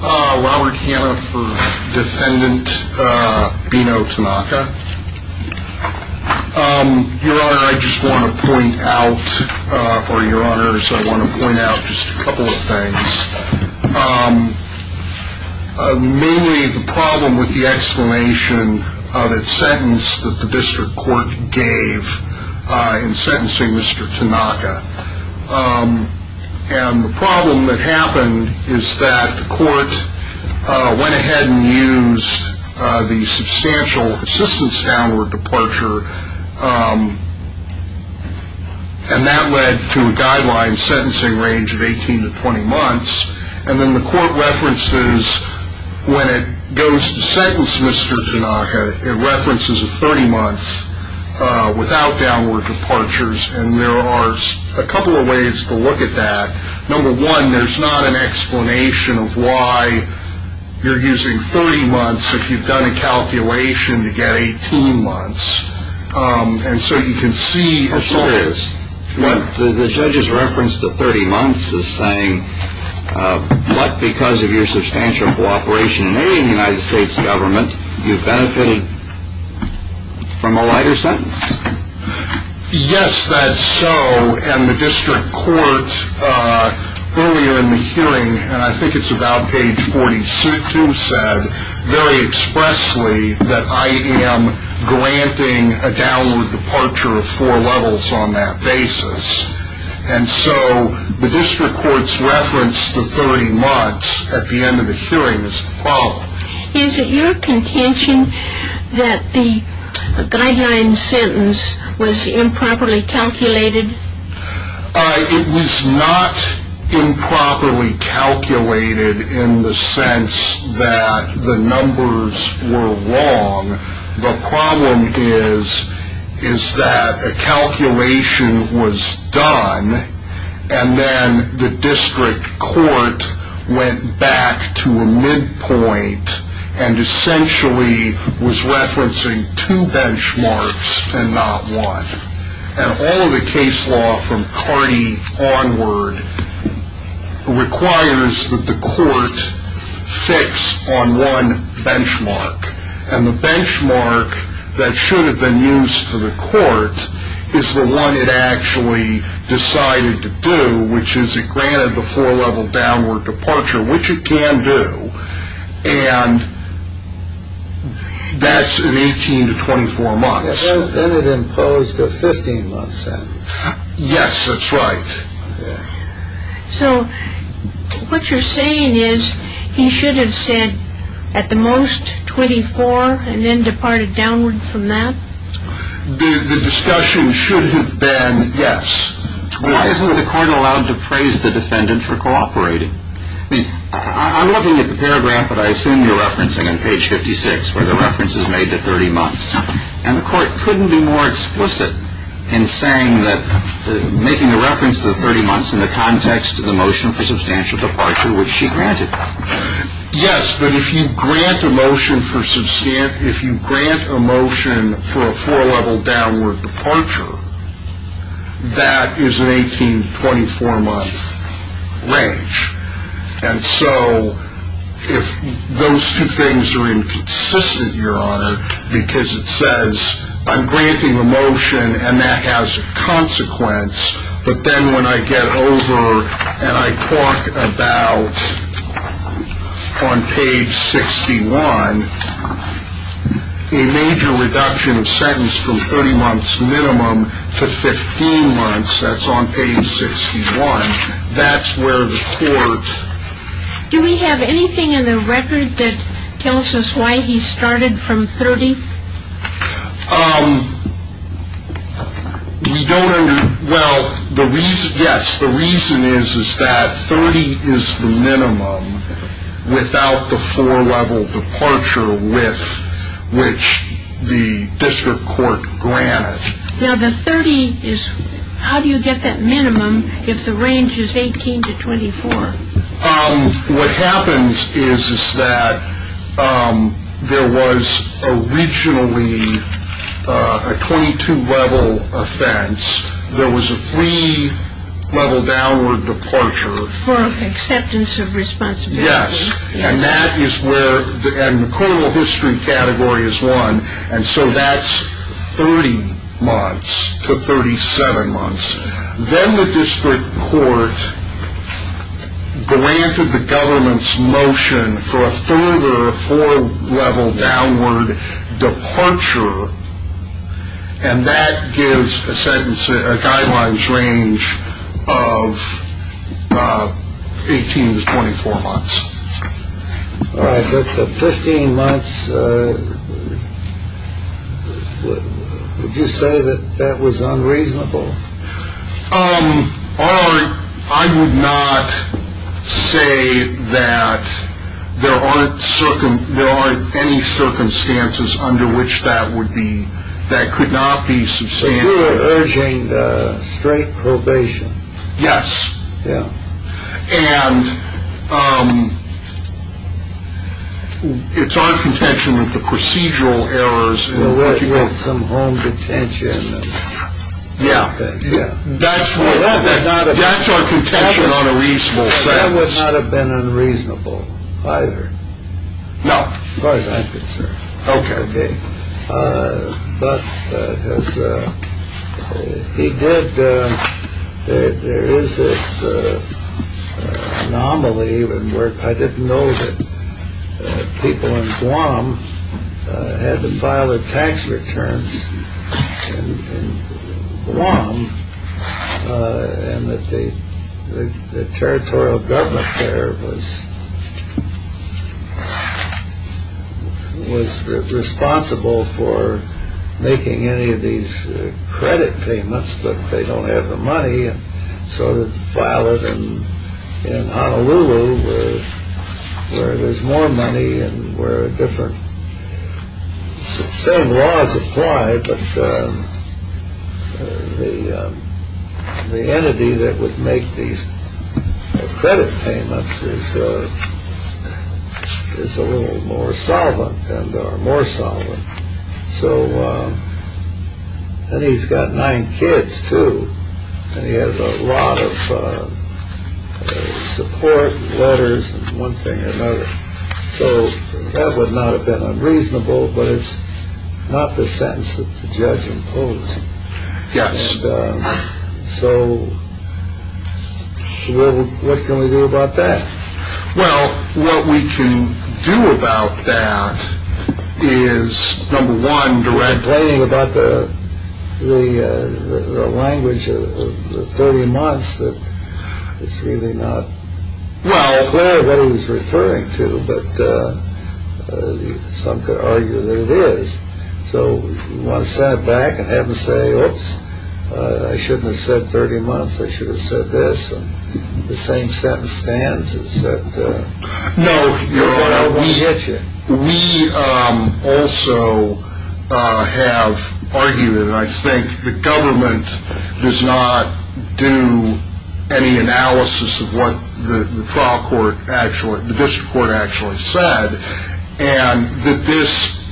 Robert Hanna for defendant Bihno Tanaka. Your honor I just want to point out or your honors I want to point out just a couple of things. Mainly the problem with the explanation of its sentence that the district court gave in sentencing Mr. Tanaka and the problem that happened is that the court went ahead and used the substantial assistance downward departure and that led to a guideline sentencing range of 18 to 20 months and then the court references when it goes to sentence Mr. Tanaka it references a 30 months without downward departures and there are a couple of ways to look at that number one there's not an explanation of why you're using 30 months if you've done a calculation to get 18 months and so you can see what the judge's reference to 30 months is saying but because of your substantial cooperation in the United States government you benefited from a lighter sentence. Yes that's so and the district court earlier in the hearing and I think it's about page 42 said very expressly that I am granting a downward departure of four levels on that basis and so the district court's reference to 30 months at the end of the hearing is Is it your contention that the guideline sentence was improperly calculated? It was not improperly calculated in the sense that the numbers were wrong the problem is is that a calculation was done and then the district court went back to a midpoint and essentially was referencing two benchmarks and not one and all of the case law from Cardi onward requires that the court fix on one benchmark and the benchmark that should have been used for the court is the one it actually decided to do which is it granted the four level downward departure which it can do and that's in 18 to 24 months. Then it imposed a 15 month sentence. Yes that's right. So what you're saying is he should have said at the most 24 and then departed downward from that? The discussion should have been yes. Why isn't the court allowed to praise the I'm looking at the paragraph that I assume you're referencing on page 56 where the reference is made to 30 months and the court couldn't be more explicit in saying that making a reference to the 30 months in the context of the motion for substantial departure which she granted. Yes but if you grant a motion for a four level downward departure that is an 18 to 24 month range and so if those two things are inconsistent your honor because it says I'm granting a motion and that has a consequence but then when I get over and I talk about on page 61 a major reduction of sentence from 30 months minimum to 60 months minimum. To 15 months that's on page 61 that's where the court. Do we have anything in the record that tells us why he started from 30? We don't well the reason yes the reason is that 30 is the minimum without the four level departure with which the district court granted. Now the 30 is how do you get that minimum if the range is 18 to 24? What happens is that there was a regionally a 22 level offense there was a three level downward departure. For acceptance of responsibility. Yes and that is where the criminal history category is one and so that's 30 months to 37 months then the district court granted the government's motion for a further four level downward departure and that gives a sentence a guidelines range of 18 to 24 months. Alright but the 15 months would you say that that was unreasonable? I would not say that there aren't any circumstances under which that would be that could not be substantial. So you were urging straight probation? Yes and it's our contention with the procedural errors. With some home detention. Yeah that's our contention on a reasonable sentence. That would not have been unreasonable either. No. As far as I'm concerned. Okay. But as he did there is this anomaly even where I didn't know that people in Guam had to file their tax returns in Guam. And that the territorial government there was responsible for making any of these credit payments but they don't have the money. So they file it in Honolulu where there's more money and where different same laws apply but the entity that would make these credit payments is a little more solvent and or more solvent. So and he's got nine kids too and he has a lot of support letters and one thing or another. So that would not have been unreasonable but it's not the sentence that the judge imposed. Yes. So what can we do about that? Well what we can do about that is number one directly. I'm complaining about the language of the 30 months that it's really not clear what he was referring to but some could argue that it is. So you want to send it back and have them say oops I shouldn't have said 30 months I should have said this. The same sentence stands. No. We hit you. We also have argued and I think the government does not do any analysis of what the trial court actually the district court actually said and that this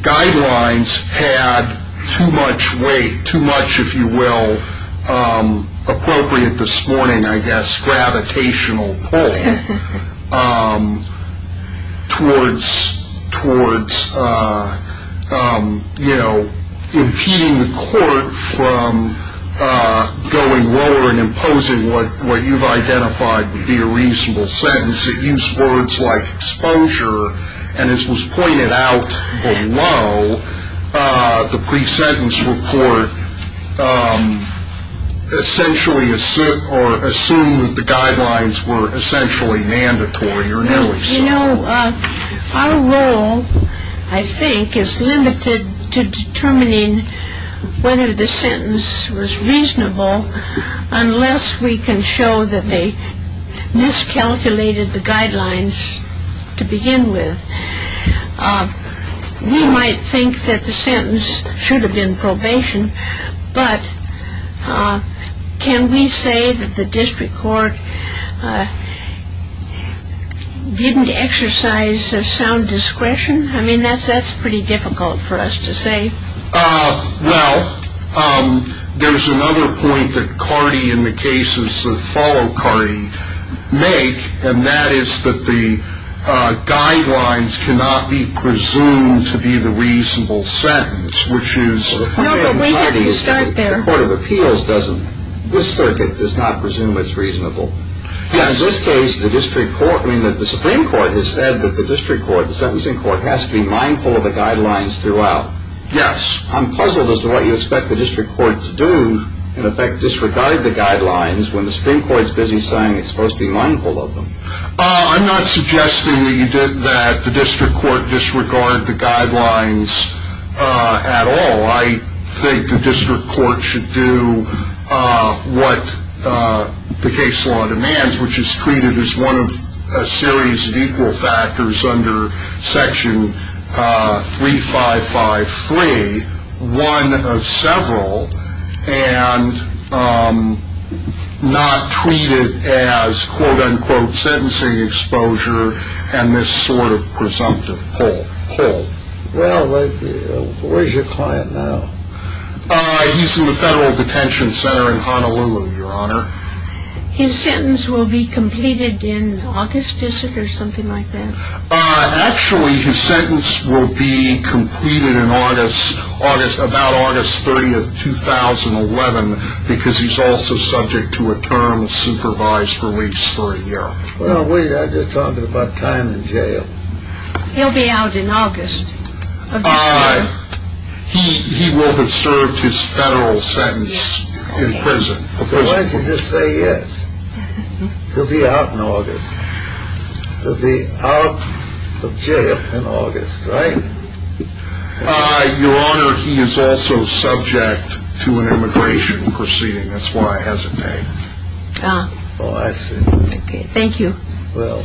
guidelines had too much weight too much if you will appropriate this morning I guess gravitational pull. Towards you know impeding the court from going lower and imposing what you've identified to be a reasonable sentence. It used words like exposure and this was pointed out below the pre-sentence report essentially or assumed the guidelines were essentially mandatory or nearly so. Our role I think is limited to determining whether the sentence was reasonable unless we can show that they miscalculated the guidelines to begin with. We might think that the sentence should have been probation but can we say that the district court didn't exercise a sound discretion. I mean that's that's pretty difficult for us to say. Well there's another point that Cardi in the cases of follow Cardi make and that is that the guidelines cannot be presumed to be the reasonable sentence which is. No but wait until you start there. The court of appeals doesn't this circuit does not presume it's reasonable. Yes. In this case the district court I mean that the Supreme Court has said that the district court the sentencing court has to be mindful of the guidelines throughout. Yes. I'm puzzled as to what you expect the district court to do in effect disregard the guidelines when the Supreme Court is busy saying it's supposed to be mindful of them. I'm not suggesting that the district court disregard the guidelines at all. I think the district court should do what the case law demands which is treated as one of a series of equal factors under section three five five three one of several and not treated as quote unquote sentencing exposure and this sort of presumptive. Well where's your client now. He's in the federal detention center in Honolulu Your Honor. His sentence will be completed in August is it or something like that. Actually his sentence will be completed in August August about August 30th 2011 because he's also subject to a term supervised release for a year. Well wait I'm just talking about time in jail. He'll be out in August. He will have served his federal sentence in prison. Why don't you just say yes. He'll be out in August. He'll be out of jail in August. Right. Your Honor. He is also subject to an immigration proceeding. That's why I hesitate. Oh I see. Thank you. Well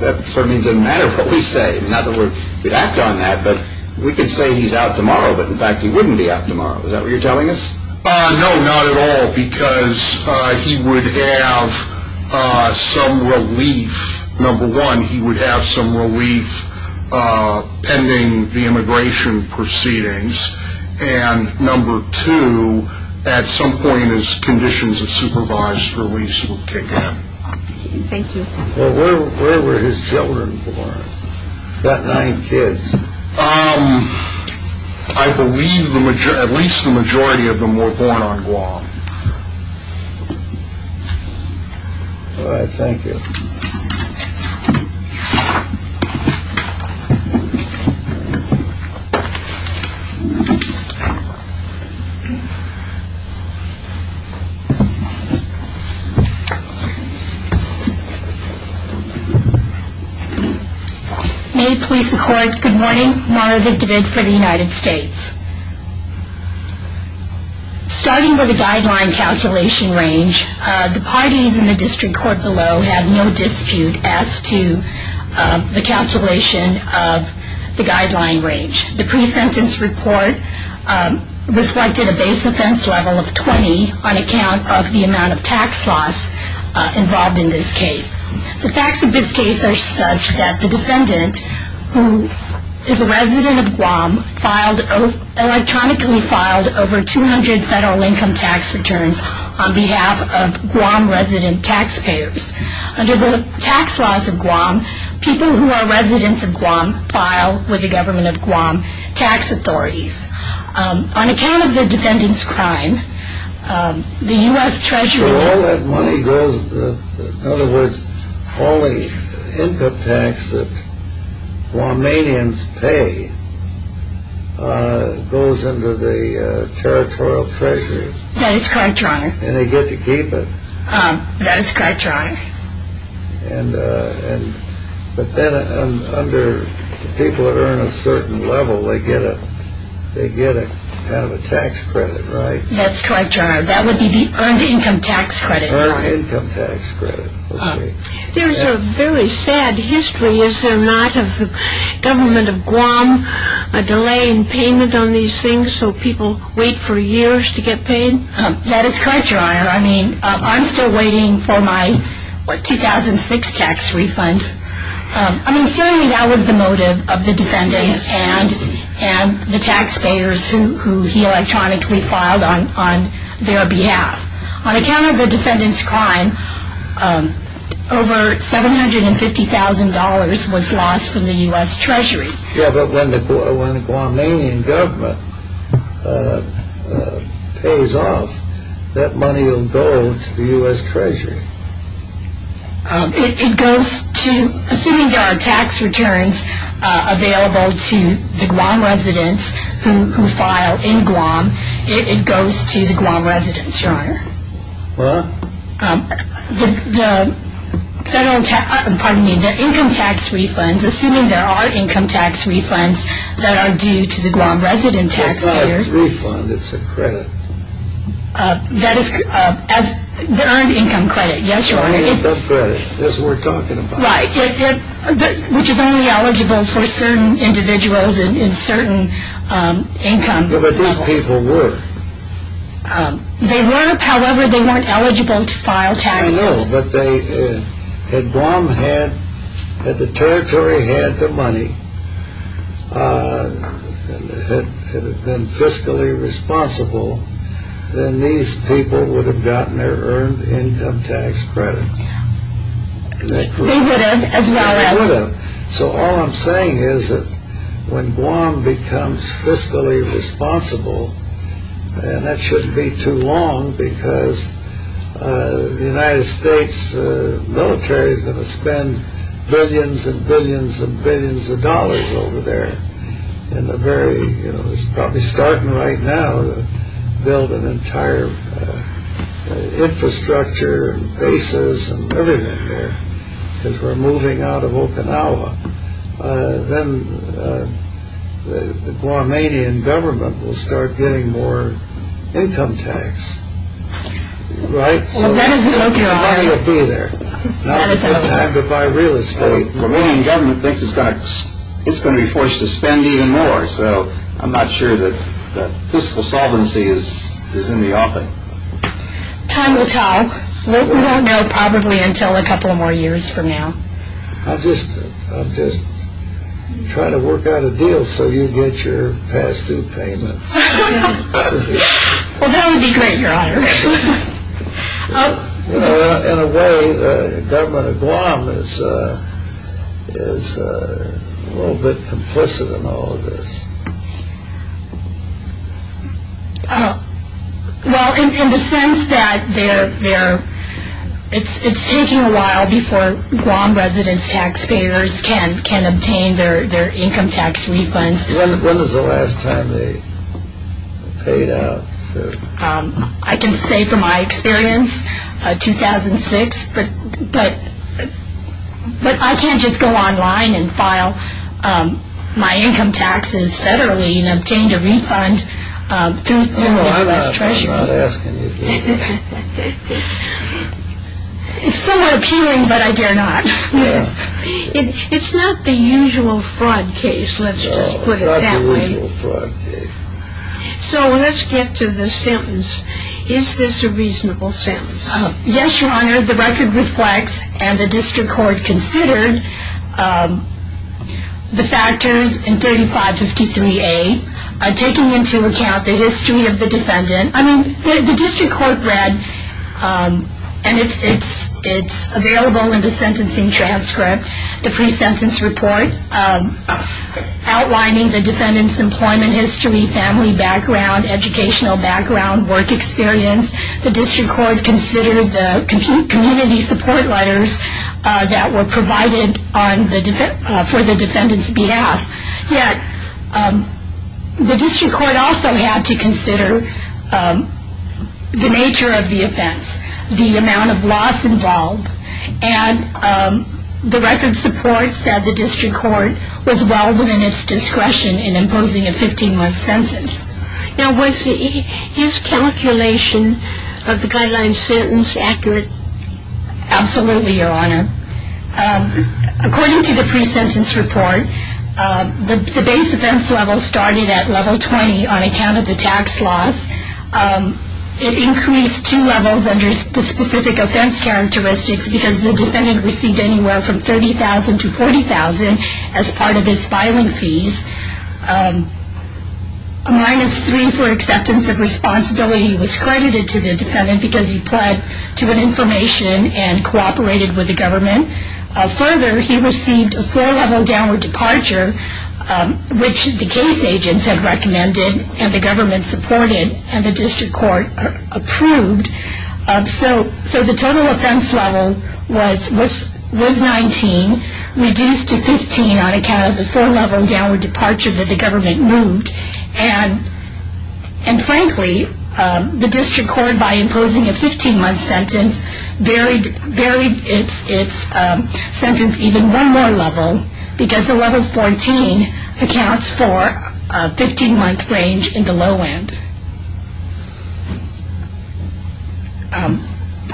that sort of means it doesn't matter what we say. In other words we'd act on that. But we can say he's out tomorrow but in fact he wouldn't be out tomorrow. Is that what you're telling us. No not at all because he would have some relief. Number one he would have some relief pending the immigration proceedings. And number two at some point his conditions of supervised release would kick in. Thank you. Well where were his children born. He's got nine kids. I believe at least the majority of them were born on Guam. All right thank you. May it please the court. Good morning. Mara Vindavid for the United States. Starting with the guideline calculation range the parties in the district court below have no dispute as to the calculation of the guideline range. The pre-sentence report reflected a base offense level of 20 on account of the amount of tax loss involved in this case. The facts of this case are such that the defendant who is a resident of Guam electronically filed over 200 federal income tax returns on behalf of Guam resident taxpayers. Under the tax laws of Guam people who are residents of Guam file with the government of Guam tax authorities. On account of the defendant's crime the U.S. Treasury. So all that money goes in other words all the income tax that Guamanians pay goes into the territorial treasury. That is correct your honor. And they get to keep it. That is correct your honor. And but then under the people that earn a certain level they get a they get a kind of a tax credit right. That's correct your honor. That would be the earned income tax credit. Earned income tax credit. There's a very sad history is there not of the government of Guam delaying payment on these things so people wait for years to get paid. That is correct your honor. I mean I'm still waiting for my 2006 tax refund. I mean certainly that was the motive of the defendant and the taxpayers who he electronically filed on their behalf. On account of the defendant's crime over $750,000 was lost from the U.S. Treasury. Yeah but when the Guamanian government pays off that money will go to the U.S. Treasury. It goes to assuming there are tax returns available to the Guam residents who file in Guam it goes to the Guam residents your honor. What? The federal pardon me the income tax refunds assuming there are income tax refunds that are due to the Guam resident taxpayers. It's not a refund it's a credit. That is as the earned income credit. Yes your honor. Earned income credit. That's what we're talking about. Right. Which is only eligible for certain individuals in certain income levels. Yeah but these people were. They were however they weren't eligible to file taxes. I know but they had Guam had the territory had the money and had been fiscally responsible then these people would have gotten their earned income tax credit. They would have as well as. So all I'm saying is that when Guam becomes fiscally responsible and that shouldn't be too long because the United States military is going to spend billions and billions and billions of dollars over there in the very it's probably starting right now to build an entire infrastructure and bases and everything there because we're moving out of Okinawa. Then the Guamanian government will start getting more income tax. Right. Well that is a no go. Money will be there. Now's a good time to buy real estate. The Guamanian government thinks it's going to be forced to spend even more so I'm not sure that fiscal solvency is in the offing. Time will tell. We won't know probably until a couple more years from now. I'm just trying to work out a deal so you get your past due payments. Well that would be great your honor. In a way the government of Guam is a little bit complicit in all of this. Well in the sense that it's taking a while before Guam residents tax payers can obtain their income tax refunds. When was the last time they paid out? I can say from my experience 2006 but I can't just go online and file my income taxes federally and obtain a refund through the U.S. Treasury. I'm not asking you to do that. It's somewhat appealing but I dare not. It's not the usual fraud case let's just put it that way. No it's not the usual fraud case. So let's get to the sentence. Is this a reasonable sentence? Yes your honor. The record reflects and the district court considered the factors in 3553A taking into account the history of the defendant. I mean the district court read and it's available in the sentencing transcript, the pre-sentence report outlining the defendant's employment history, family background, educational background, work experience. The district court considered the community support letters that were provided for the defendant's behalf. Yet the district court also had to consider the nature of the offense, the amount of loss involved, and the record supports that the district court was well within its discretion in imposing a 15-month sentence. Now was his calculation of the guideline sentence accurate? Absolutely your honor. According to the pre-sentence report the base offense level started at level 20 on account of the tax loss. It increased two levels under the specific offense characteristics because the defendant received anywhere from $30,000 to $40,000 as part of his filing fees. A minus three for acceptance of responsibility was credited to the defendant because he pled to an information and cooperated with the government. Further he received a four level downward departure which the case agents had recommended and the government supported and the district court approved. So the total offense level was 19 reduced to 15 on account of the four level downward departure that the government moved. And frankly the district court by imposing a 15-month sentence varied its sentence even one more level because the level 14 accounts for a 15-month range in the low end.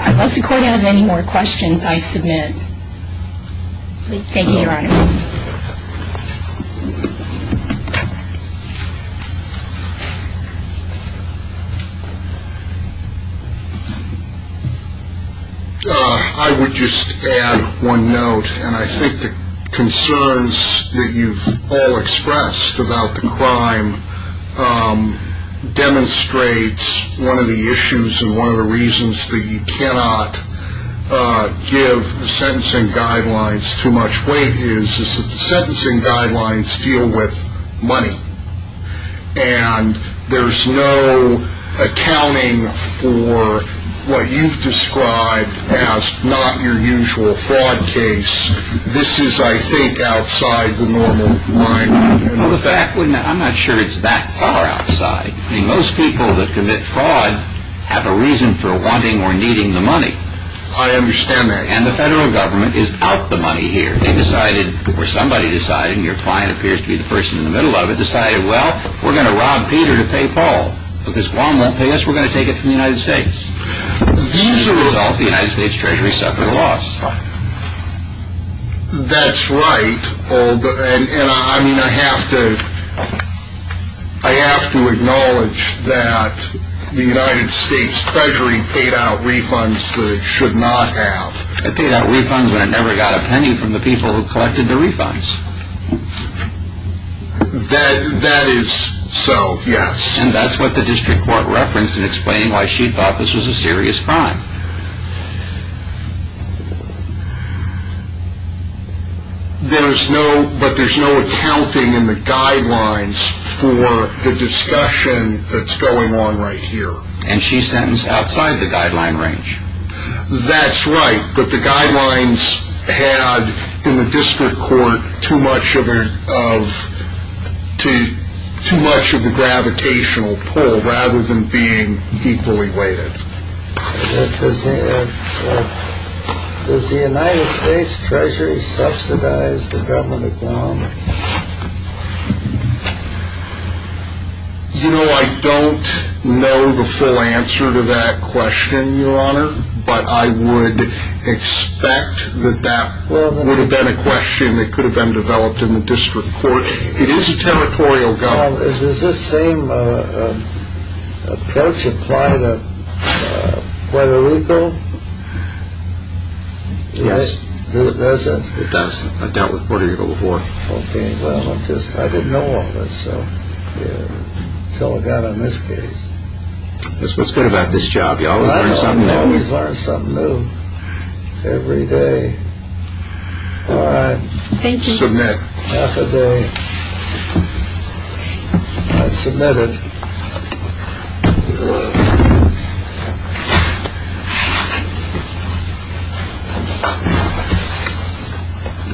Unless the court has any more questions I submit. Thank you your honor. I would just add one note and I think the concerns that you've all expressed about the crime demonstrates one of the issues and one of the reasons that you cannot give sentencing guidelines too much weight is that the sentencing guidelines deal with money. And there's no accounting for what you've described as not your usual fraud case. This is I think outside the normal line. I'm not sure it's that far outside. I mean most people that commit fraud have a reason for wanting or needing the money. I understand that. And the federal government is out the money here. They decided or somebody decided and your client appears to be the person in the middle of it decided well we're going to rob Peter to pay Paul. Because Juan won't pay us we're going to take it from the United States. As a result the United States treasury suffered a loss. That's right. And I mean I have to acknowledge that the United States treasury paid out refunds that it should not have. It paid out refunds when it never got a penny from the people who collected the refunds. That is so. Yes. And that's what the district court referenced in explaining why she thought this was a serious crime. There's no but there's no accounting in the guidelines for the discussion that's going on right here. And she's sentenced outside the guideline range. That's right. But the guidelines had in the district court too much of a too much of a gravitational pull rather than being equally weighted. Does the United States treasury subsidize the government of Guam? You know I don't know the full answer to that question Your Honor. But I would expect that that would have been a question that could have been developed in the district court. It is a territorial government. Does this same approach apply to Puerto Rico? Yes. Does it? It does. I dealt with Puerto Rico before. Okay. Well I'm just I didn't know all that so. Yeah. Until I got on this case. That's what's good about this job. You always learn something new. I always learn something new every day. All right. Thank you. Submit. Half a day. I submit it. Yes.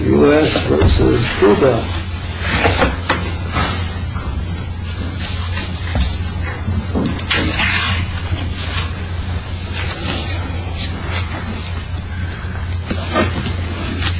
U.S. v. Cuba.